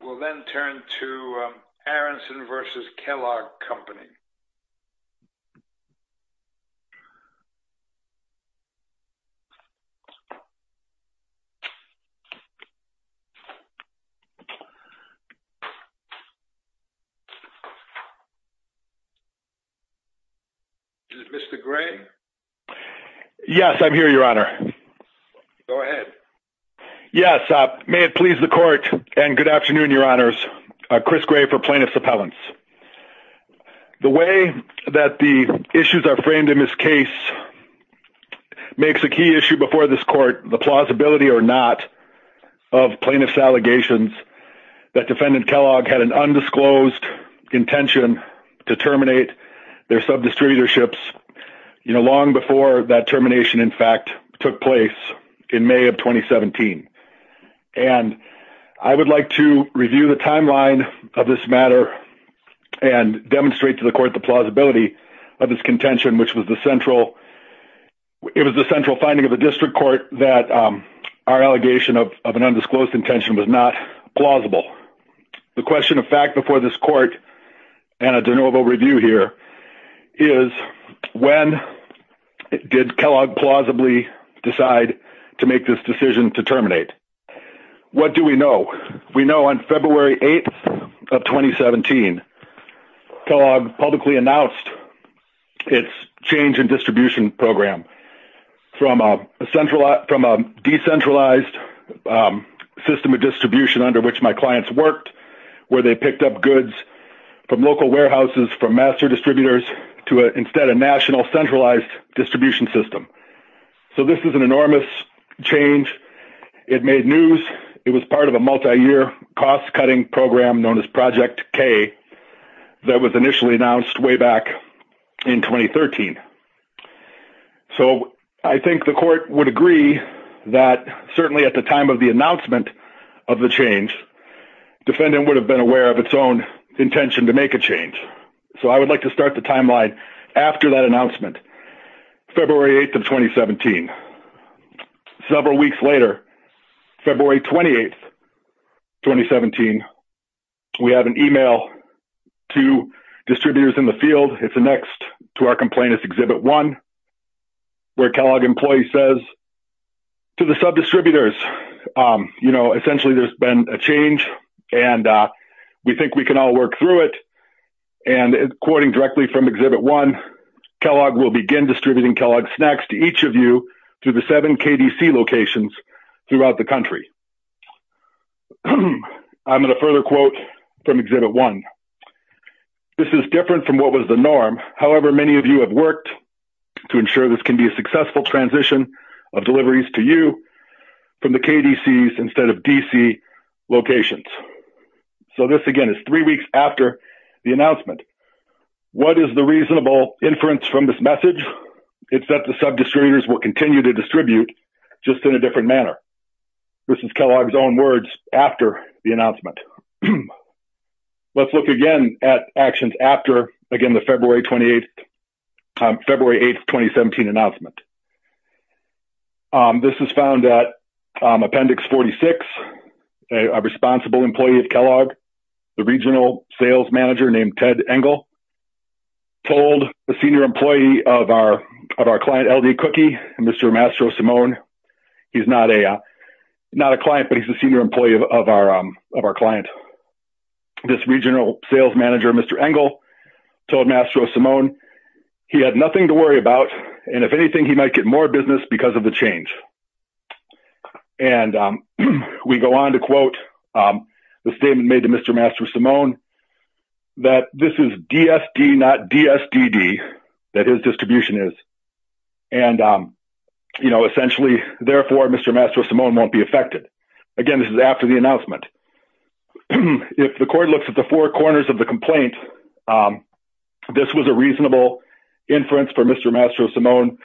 We'll then turn to Aaronson v. Kellogg Company. Is it Mr. Gray? Yes, I'm here, Your Honor. Go ahead. Yes, may it please the court and good afternoon, Your Honors. Chris Gray for plaintiff's appellants. The way that the issues are framed in this case makes a key issue before this court the plausibility or not of plaintiff's allegations that defendant Kellogg had an undisclosed intention to terminate their sub-distributorships, you know, long before that termination, in fact, took place in May of 2017. And I would like to review the timeline of this matter and demonstrate to the court the plausibility of this contention, which was the central it was the central finding of the district court that our allegation of an undisclosed intention was not plausible. The question of fact before this court and a de novo review here is when did Kellogg plausibly decide to make this decision to terminate? What do we know? We know on February 8th of 2017 Kellogg publicly announced its change in distribution program from a decentralized system of distribution under which my clients worked where they picked up goods from local warehouses from master distributors to instead a national centralized distribution system. So this is an enormous change. It made news. It was part of a multi-year cost-cutting program known as Project K that was initially announced way back in 2013. So I think the court would agree that certainly at the time of the announcement of the change defendant would have been aware of its own intention to make a change. So I would like to start the timeline after that announcement February 8th of 2017. Several weeks later February 28th 2017 we have an email to distributors in the field. It's the next to our complaint is exhibit one where Kellogg employee says to the sub distributors, you know, essentially there's been a change and we think we can all work through it and according directly from exhibit one Kellogg will begin distributing Kellogg snacks to each of you to the seven KDC locations throughout the country. I'm going to further quote from exhibit one. This is different from what was the norm. However, many of you have worked to ensure this can be a successful transition of deliveries to you from the KDCs instead of DC locations. So this again is three weeks after the announcement. What is the reasonable inference from this message? It's that the sub distributors will continue to distribute just in a different manner. This is Kellogg's own words after the announcement. Let's look again at actions after again the February 28th February 8th 2017 announcement. This is found at Appendix 46 a responsible employee of Kellogg the regional sales manager named Ted Engel told the senior employee of our of our client LD cookie and Mr. Mastro Simone. He's not a not a client, but he's a senior employee of our of our client. This regional sales manager. Mr. Engel told Mastro Simone he had nothing to worry about and if anything he might get more business because of the change and we go on to quote the statement made to Mr. Mastro Simone that this is DSD not DSDD that his distribution is and you know, essentially therefore Mr. Mastro Simone won't be affected again. This is after the announcement. If the court looks at the four corners of the complaint, this was a reasonable inference for Mr. Mastro Simone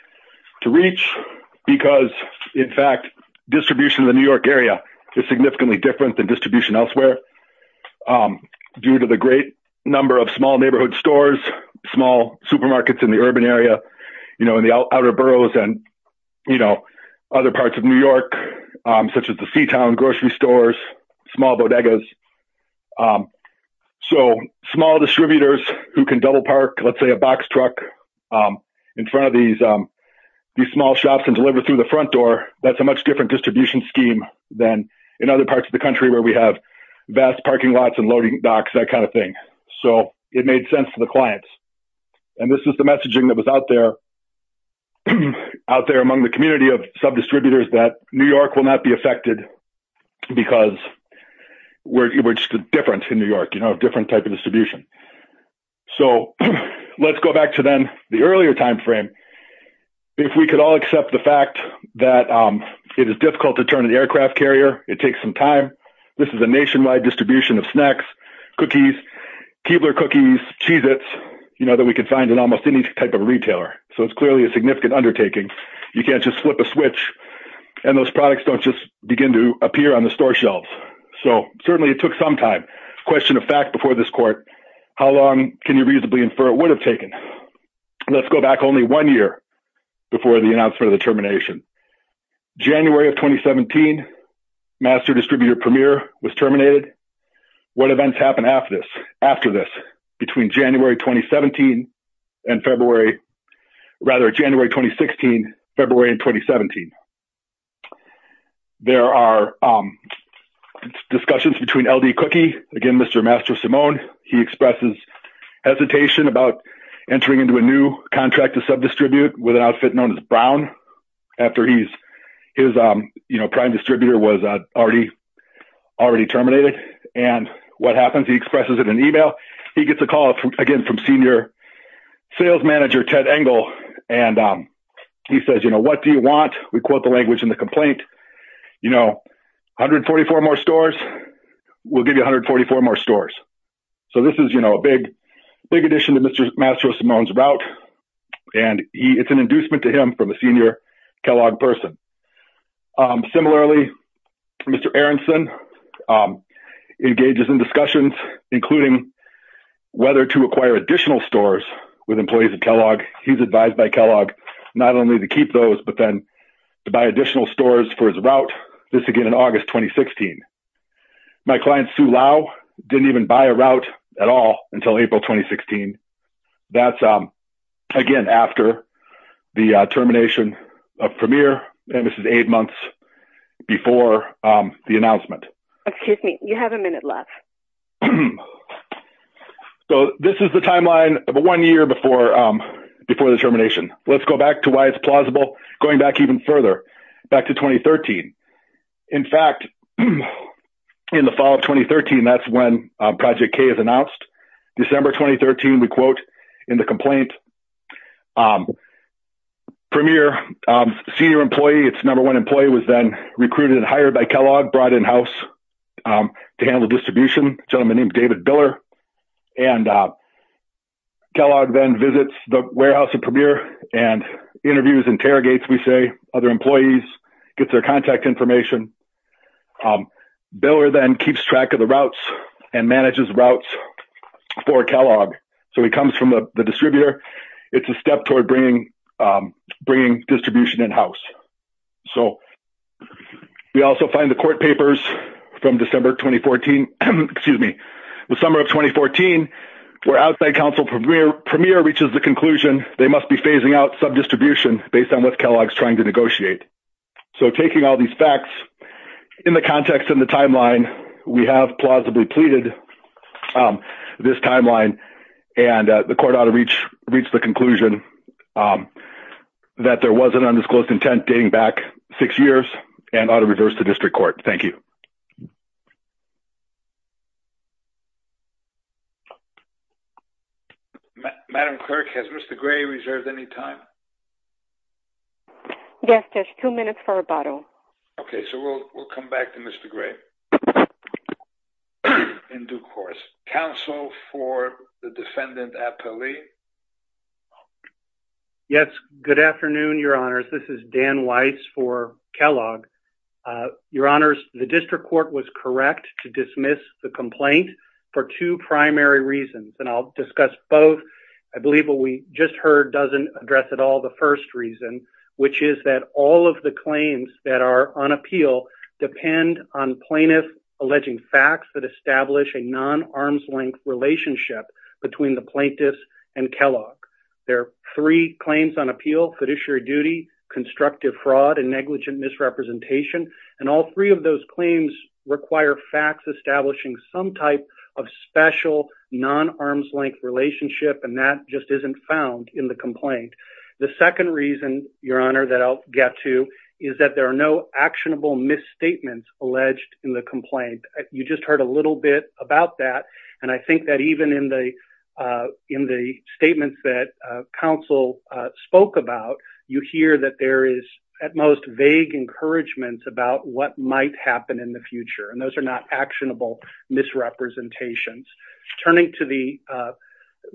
to reach because in fact distribution of the New York area is significantly different than distribution elsewhere due to the great number of small neighborhood stores small supermarkets in the urban area, you know in the outer boroughs and you know, other parts of New York such as the C-Town grocery stores small bodegas. So small distributors who can double park. Let's say a box truck in front of these these small shops and deliver through the front door. That's a much different distribution scheme than in other parts of the country where we have vast parking lots and loading docks that kind of thing. So it made sense for the clients and this is the messaging that was out there out there among the community of subdistributors that New York will not be affected because we're just different in New York, you know different type of distribution. So let's go back to then the earlier time frame. If we could all accept the fact that it is difficult to turn an aircraft carrier. It takes some time. This is a nationwide distribution of snacks Keebler cookies Cheez-Its, you know that we could find in almost any type of retailer. So it's clearly a significant undertaking. You can't just flip a switch and those products don't just begin to appear on the store shelves. So certainly it took some time question of fact before this court how long can you reasonably infer it would have taken let's go back only one year before the announcement of the termination January of 2017 master distributor premier was terminated. What events happen after this after this between January 2017 and February rather January 2016 February and 2017 there are discussions between LD cookie again, Mr. Master Simone. He expresses hesitation about entering into a new contract to subdistribute with an outfit known as Brown after he's his you know, prime distributor was already already terminated and what happens he expresses it in email. He gets a call from again from senior sales manager Ted Engel and he says, you know, what do you want we quote the language in the complaint, you know, 144 more stores will give you 144 more stores. So this is you know, a big big addition to Mr. Master Simone's route and he it's an inducement to him from a senior Kellogg person. Similarly, Mr. Aaronson engages in discussions including whether to acquire additional stores with employees of Kellogg he's advised by Kellogg not only to keep those but then to buy additional stores for his route this again in August 2016. My client Sue Lau didn't even buy a route at all until April 2016. That's again after the termination of premier and this is eight months before the announcement. Excuse me, you have a minute left. So this is the timeline of a one year before before the termination. Let's go back to why it's plausible going back even further back to 2013. In fact, in the fall of 2013, that's when project K is announced December 2013. We quote in the complaint premier senior employee. It's number one employee was then recruited and hired by Kellogg brought in house to handle distribution gentleman named David Biller and Kellogg then visits the warehouse of premier and interviews interrogates. We say other employees get their contact information Biller then keeps track of the routes and manages routes for Kellogg. So he comes from the distributor. It's a step toward bringing bringing distribution in-house. So we also find the court papers from December 2014. Excuse me, the summer of 2014 where outside counsel premier premier reaches the conclusion. They must be phasing out some distribution based on what Kellogg's trying to negotiate. So taking all these facts in the context in the timeline. We have plausibly pleaded this timeline and the court ought to reach reach the conclusion that there was an undisclosed intent dating back six years and ought to reverse the district court. Thank you. Madam clerk has Mr. Gray reserved any time. Yes, there's two minutes for a bottle. Okay, so we'll come back to Mr. Gray in due course counsel for the defendant appellee. Yes. Good afternoon. Your Honors. This is Dan Weiss for Kellogg your Honors. The district court was correct to dismiss the complaint for two primary reasons and I'll discuss both. I believe what we just heard doesn't address at all. The first reason which is that all of the claims that are on appeal depend on plaintiff alleging facts that establish a non-arm's-length relationship between the plaintiffs and Kellogg. There are three claims on appeal fiduciary duty constructive fraud and negligent misrepresentation and all three of those claims require facts establishing some type of special non-arm's-length relationship and that just isn't found in the complaint. The second reason your Honor that I'll get to is that there are no actionable misstatements alleged in the complaint. You just heard a little bit about that and I think that even in the in the statements that counsel spoke about you hear that there is at most vague encouragement about what might happen in the future and those are not actionable misrepresentations turning to the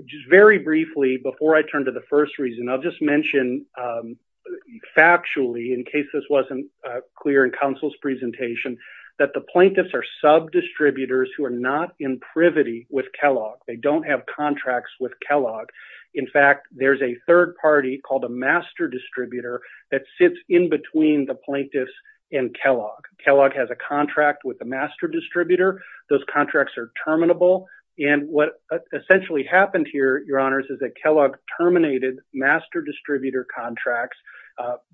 just very briefly before I turn to the first reason. I'll just mention factually in case this wasn't clear in counsel's presentation that the plaintiffs are sub-distributors who are not in privity with Kellogg. They don't have contracts with Kellogg. In fact, there's a third party called a master distributor that sits in between the plaintiffs and Kellogg. Kellogg has a contract with the master distributor. Those contracts are terminable and what essentially happened here, your honors, is that Kellogg terminated master distributor contracts.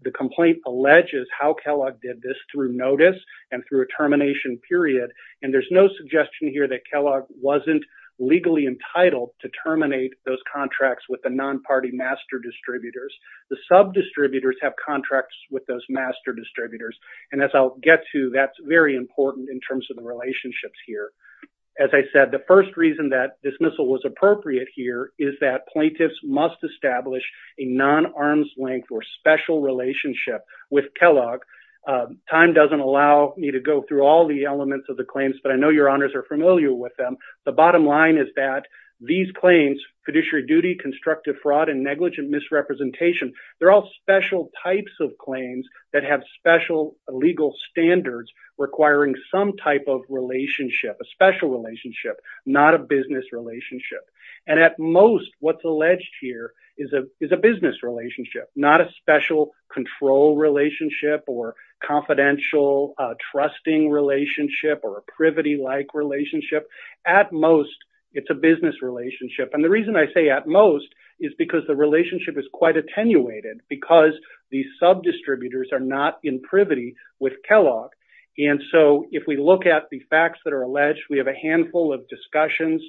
The complaint alleges how Kellogg did this through notice and through a termination period and there's no suggestion here that Kellogg wasn't legally entitled to terminate those contracts with the non-party master distributors. The sub-distributors have contracts with those master distributors and as I'll get to that's very important in terms of the relationships here. As I said, the first reason that dismissal was appropriate here is that plaintiffs must establish a non-arm's-length or special relationship with Kellogg. Time doesn't allow me to go through all the elements of the claims, but I know your honors are familiar with them. The bottom line is that these claims, fiduciary duty, constructive fraud, and negligent misrepresentation, they're all special types of claims that have special legal standards requiring some type of relationship, a special relationship, not a business relationship. And at most what's alleged here is a business relationship, not a special control relationship or confidential trusting relationship or a privity-like relationship. At most, it's a business relationship. And the reason I say at most is because the relationship is quite attenuated because these sub-distributors are not in privity with Kellogg. And so if we look at the facts that are alleged, we have a handful of discussions,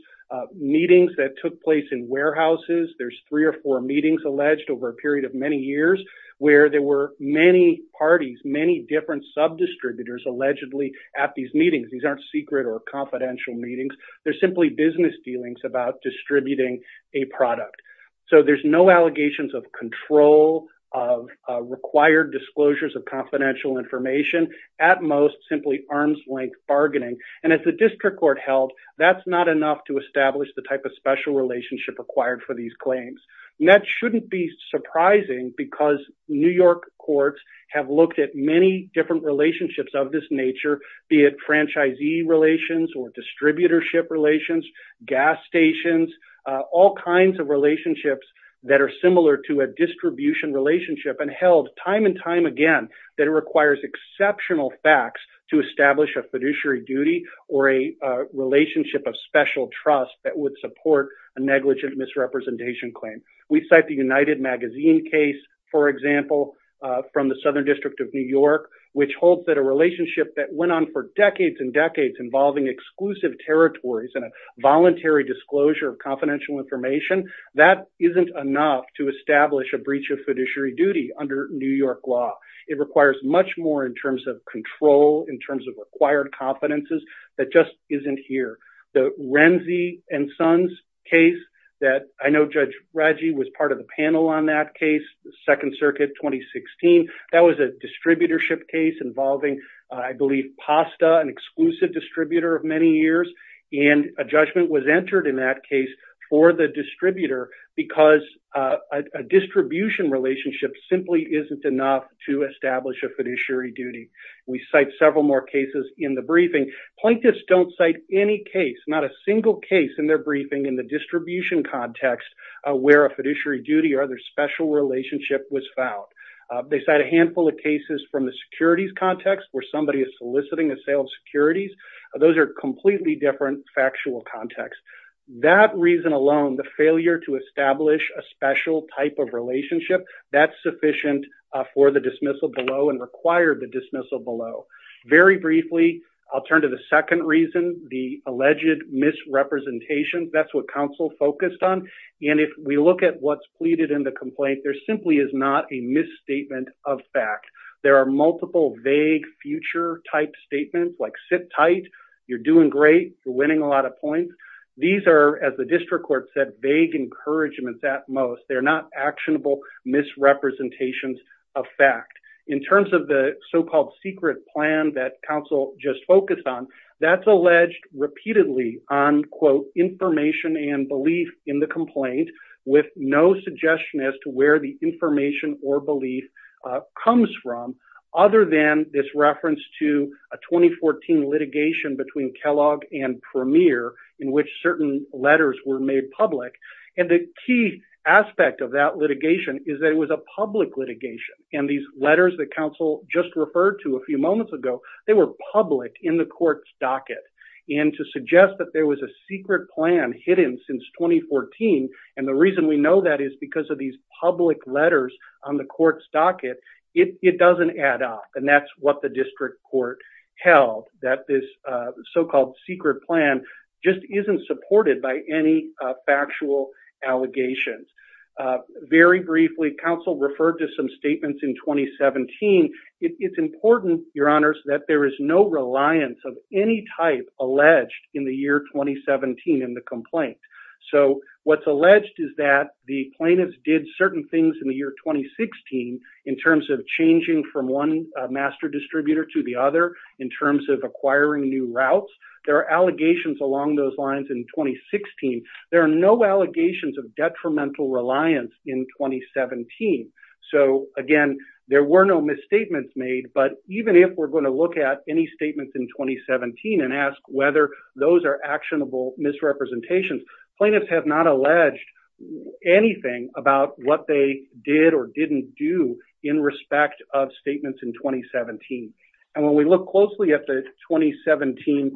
meetings that took place in warehouses. There's three or four meetings alleged over a period of many years where there were many parties, many different sub-distributors allegedly at these meetings. These aren't secret or confidential meetings. They're simply business dealings about distributing a product. So there's no allegations of control, of required disclosures of confidential information. At most, simply arm's-length bargaining. And as the district court held, that's not enough to establish the type of special relationship required for these claims. And that shouldn't be surprising because New York courts have looked at many different relationships of this nature, be it franchisee relations or distributorship relations, gas stations, all kinds of relationships that are similar to a distribution relationship and held time and time again that it requires exceptional facts to establish a fiduciary duty or a relationship of special trust that would support a negligent misrepresentation claim. We cite the United Magazine case, for example, from the Southern District of New York, which holds that a relationship that went on for decades and decades involving exclusive territories and a voluntary disclosure of confidential information, that isn't enough to establish a breach of fiduciary duty under New York law. It requires much more in terms of control, in terms of required competences, that just isn't here. The Renzi and Sons case that I know Judge Raggi was part of the panel on that case, the Second Circuit 2016. That was a distributorship case involving, I believe, PASTA, an exclusive distributor of many years. And a judgment was entered in that case for the distributor because a distribution relationship simply isn't enough to establish a fiduciary duty. We cite several more cases in the briefing. Plaintiffs don't cite any case, not a single case in their briefing in the distribution context where a fiduciary duty or other special relationship was found. They cite a handful of cases from the securities context where somebody is soliciting a sale of securities. Those are completely different factual contexts. That reason alone, the failure to establish a special type of relationship, that's sufficient for the dismissal below and required the dismissal below. Very briefly, I'll turn to the second reason, the alleged misrepresentation. That's what counsel focused on. And if we look at what's pleaded in the complaint, there simply is not a misstatement of fact. There are multiple vague future type statements like sit tight, you're doing great, you're winning a lot of points. These are, as the district court said, vague encouragements at most. They're not actionable misrepresentations of fact. In terms of the so-called secret plan that counsel just focused on, that's alleged repeatedly on quote information and belief in the complaint with no suggestion as to where the information or belief comes from other than this reference to a 2014 litigation between Kellogg and Premier in which certain letters were made public. And the key aspect of that litigation is that it was a public litigation. And these letters that counsel just referred to a few moments ago, they were public in the court's docket. And to suggest that there was a secret plan hidden since 2014, and the reason we know that is because of these public letters on the court's docket, it doesn't add up. And that's what the district court held, that this so-called secret plan just isn't supported by any factual allegations. Very briefly, counsel referred to some statements in 2017. It's important, your honors, that there is no reliance of any type alleged in the year 2017 in the complaint. So what's alleged is that the plaintiffs did certain things in the year 2016 in terms of changing from one master distributor to the other in terms of acquiring new routes. There are allegations along those lines in 2016. There are no allegations of detrimental reliance in 2017. So again, there were no misstatements made, but even if we're going to look at any statements in 2017 and ask whether those are actionable misrepresentations, plaintiffs have not alleged anything about what they did or didn't do in respect of statements in 2017. And when we look closely at the 2017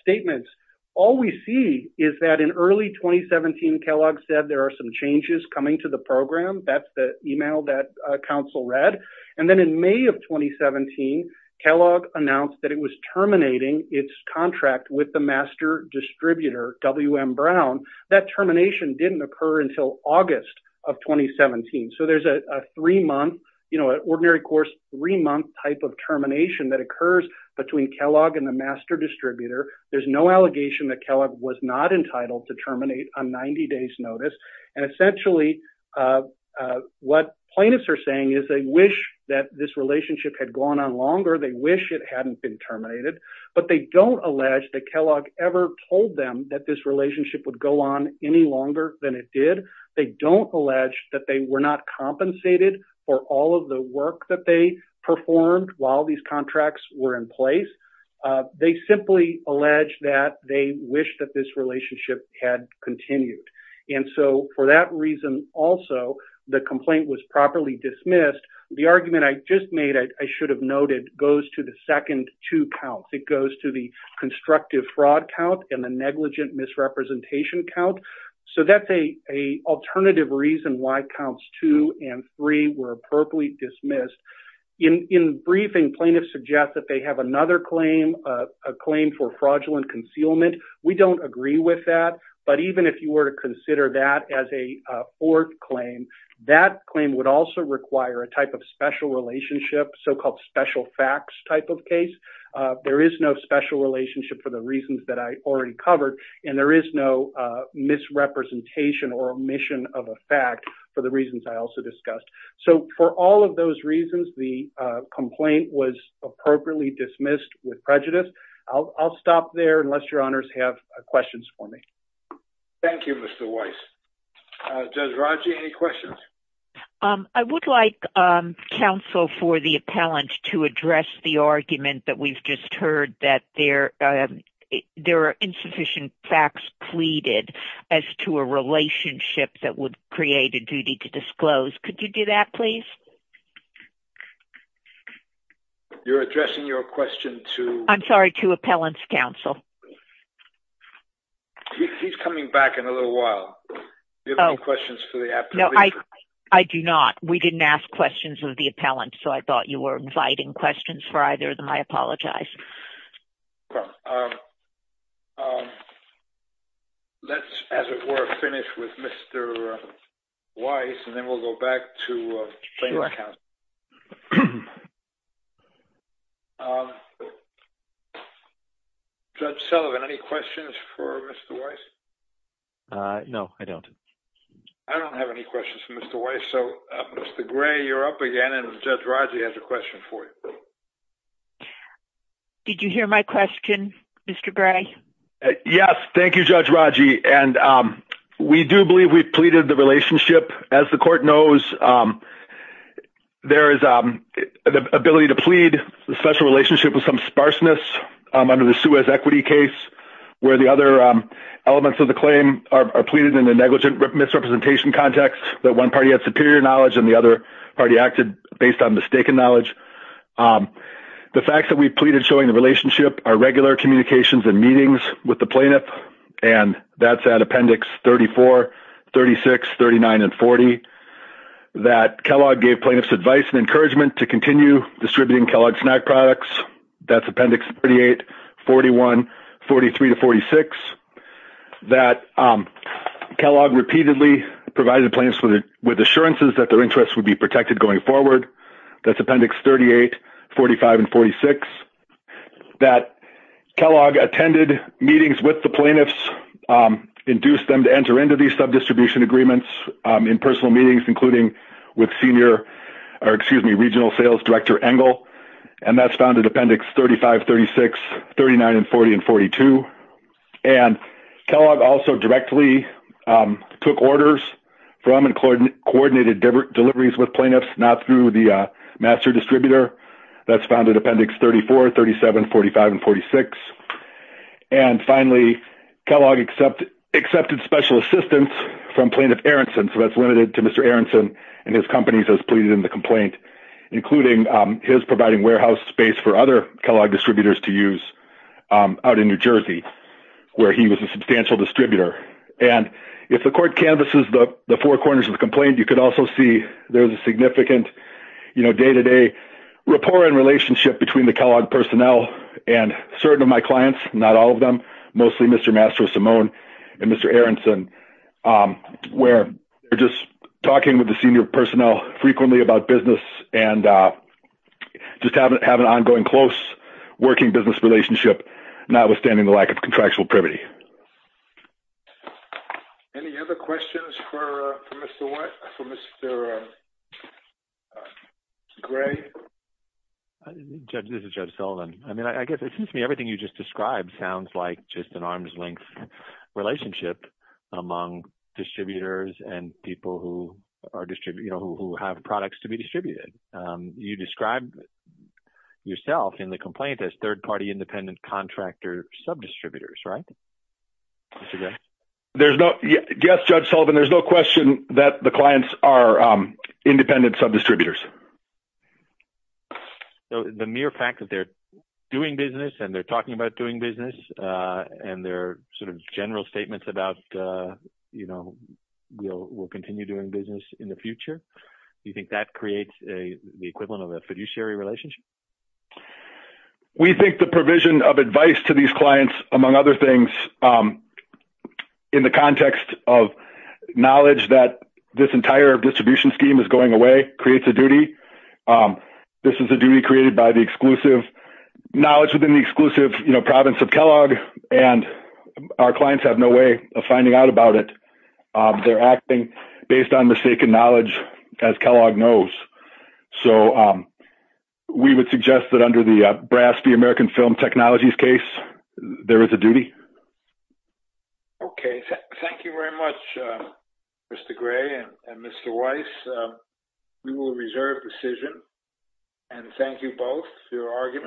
statements, all we see is that in early 2017, Kellogg said there are some changes coming to the program. That's the email that counsel read. And then in May of 2017, Kellogg announced that it was terminating its contract with the master distributor, W.M. Brown. That termination didn't occur until August of 2017. So there's a three-month, you know, an ordinary course three-month type of termination that occurs between Kellogg and the master distributor. There's no allegation that Kellogg was not entitled to terminate on 90 days notice. And essentially, what plaintiffs are saying is they wish that this relationship had gone on longer. They wish it hadn't been terminated, but they don't allege that Kellogg ever told them that this relationship would go on any longer than it did. They don't allege that they were not compensated for all of the work that they performed while these contracts were in place. They simply allege that they wish that this relationship had continued. And so for that reason also, the complaint was properly dismissed. The argument I just made, I should have noted, goes to the second two counts. It goes to the constructive fraud count and the negligent misrepresentation count. So that's an alternative reason why counts two and three were appropriately dismissed. In briefing, plaintiffs suggest that they have another claim, a claim for fraudulent concealment. We don't agree with that. But even if you were to consider that as a ort claim, that claim would also require a type of special relationship, so-called special facts type of case. There is no special relationship for the reasons that I already covered, and there is no misrepresentation or omission of a fact for the reasons I also discussed. So for all of those reasons, the complaint was appropriately dismissed with prejudice. I'll stop there unless your honors have questions for me. Thank you, Mr. Weiss. Judge Rodge, any questions? I would like counsel for the appellant to address the argument that we've just heard that there are insufficient facts pleaded as to a relationship that would create a duty to disclose. Could you do that, please? You're addressing your question to- I'm sorry, to appellant's counsel. He's coming back in a little while. Do you have any questions for the appellant? I do not. We didn't ask questions of the appellant, so I thought you were inviting questions for either of them. I apologize. Let's, as it were, finish with Mr. Weiss, and then we'll go back to plaintiff's counsel. Judge Sullivan, any questions for Mr. Weiss? No, I don't. I don't have any questions for Mr. Weiss. So, Mr. Gray, you're up again, and Judge Rodge has a question for you. Did you hear my question, Mr. Gray? Yes. Thank you, Judge Rodge. And we do believe we've pleaded the relationship. As the court knows, there is the ability to plead a special relationship with some sparseness under the Suez equity case, where the other elements of the claim are pleaded in a negligent misrepresentation context that one party had superior knowledge and the other party acted based on mistaken knowledge. The facts that we've pleaded showing the relationship are regular communications and meetings with the plaintiff, and that's at Appendix 34, 36, 39, and 40, that Kellogg gave plaintiffs advice and encouragement to continue distributing Kellogg snack products. That's Appendix 38, 41, 43 to 46, that Kellogg repeatedly provided plaintiffs with assurances that their interests would be protected going forward. That's Appendix 38, 45, and 46, that Kellogg attended meetings with the plaintiffs, induced them to enter into these sub-distribution agreements in personal meetings, including with Senior, or excuse me, Regional Sales Director Engel, and that's found in Appendix 35, 36, 39, and 40, and 42. And Kellogg also directly took orders from and coordinated deliveries with plaintiffs, not through the master distributor. That's found in Appendix 34, 37, 45, and 46. And finally, Kellogg accepted special assistance from Plaintiff Aronson, so that's limited to Mr. Aronson and his companies as pleaded in the complaint, including his providing warehouse space for other Kellogg distributors to use out in New Jersey, where he was a substantial distributor. And if the court canvases the four corners of the complaint, you can also see there's a significant day-to-day rapport and relationship between the Kellogg personnel and certain of my clients, not all of them, mostly Mr. Mastro Simone and Mr. Aronson, where they're just talking with the senior personnel frequently about business and just have an ongoing close working business relationship, notwithstanding the lack of contractual privity. Thank you. Any other questions for Mr. Gray? Judge, this is Judge Sullivan. I mean, I guess it seems to me everything you just described sounds like just an arm's length relationship among distributors and people who have products to be distributed. You described yourself in the complaint as third-party independent contractor sub-distributors, right? Mr. Gray? Yes, Judge Sullivan. There's no question that the clients are independent sub-distributors. So the mere fact that they're doing business and they're talking about doing business and their sort of general statements about, you know, we'll continue doing business in the future, do you think that creates the equivalent of a fiduciary relationship? We think the provision of advice to these clients, among other things, in the context of knowledge that this entire distribution scheme is going away, creates a duty. This is a duty created by the exclusive knowledge within the exclusive, you know, province of Kellogg, and our clients have no way of finding out about it. They're acting based on mistaken knowledge, as Kellogg knows. So we would suggest that under the Brasby American Film Technologies case, there is a duty. Okay. Thank you very much, Mr. Gray and Mr. Weiss. We will reserve decision. And thank you both for your argument.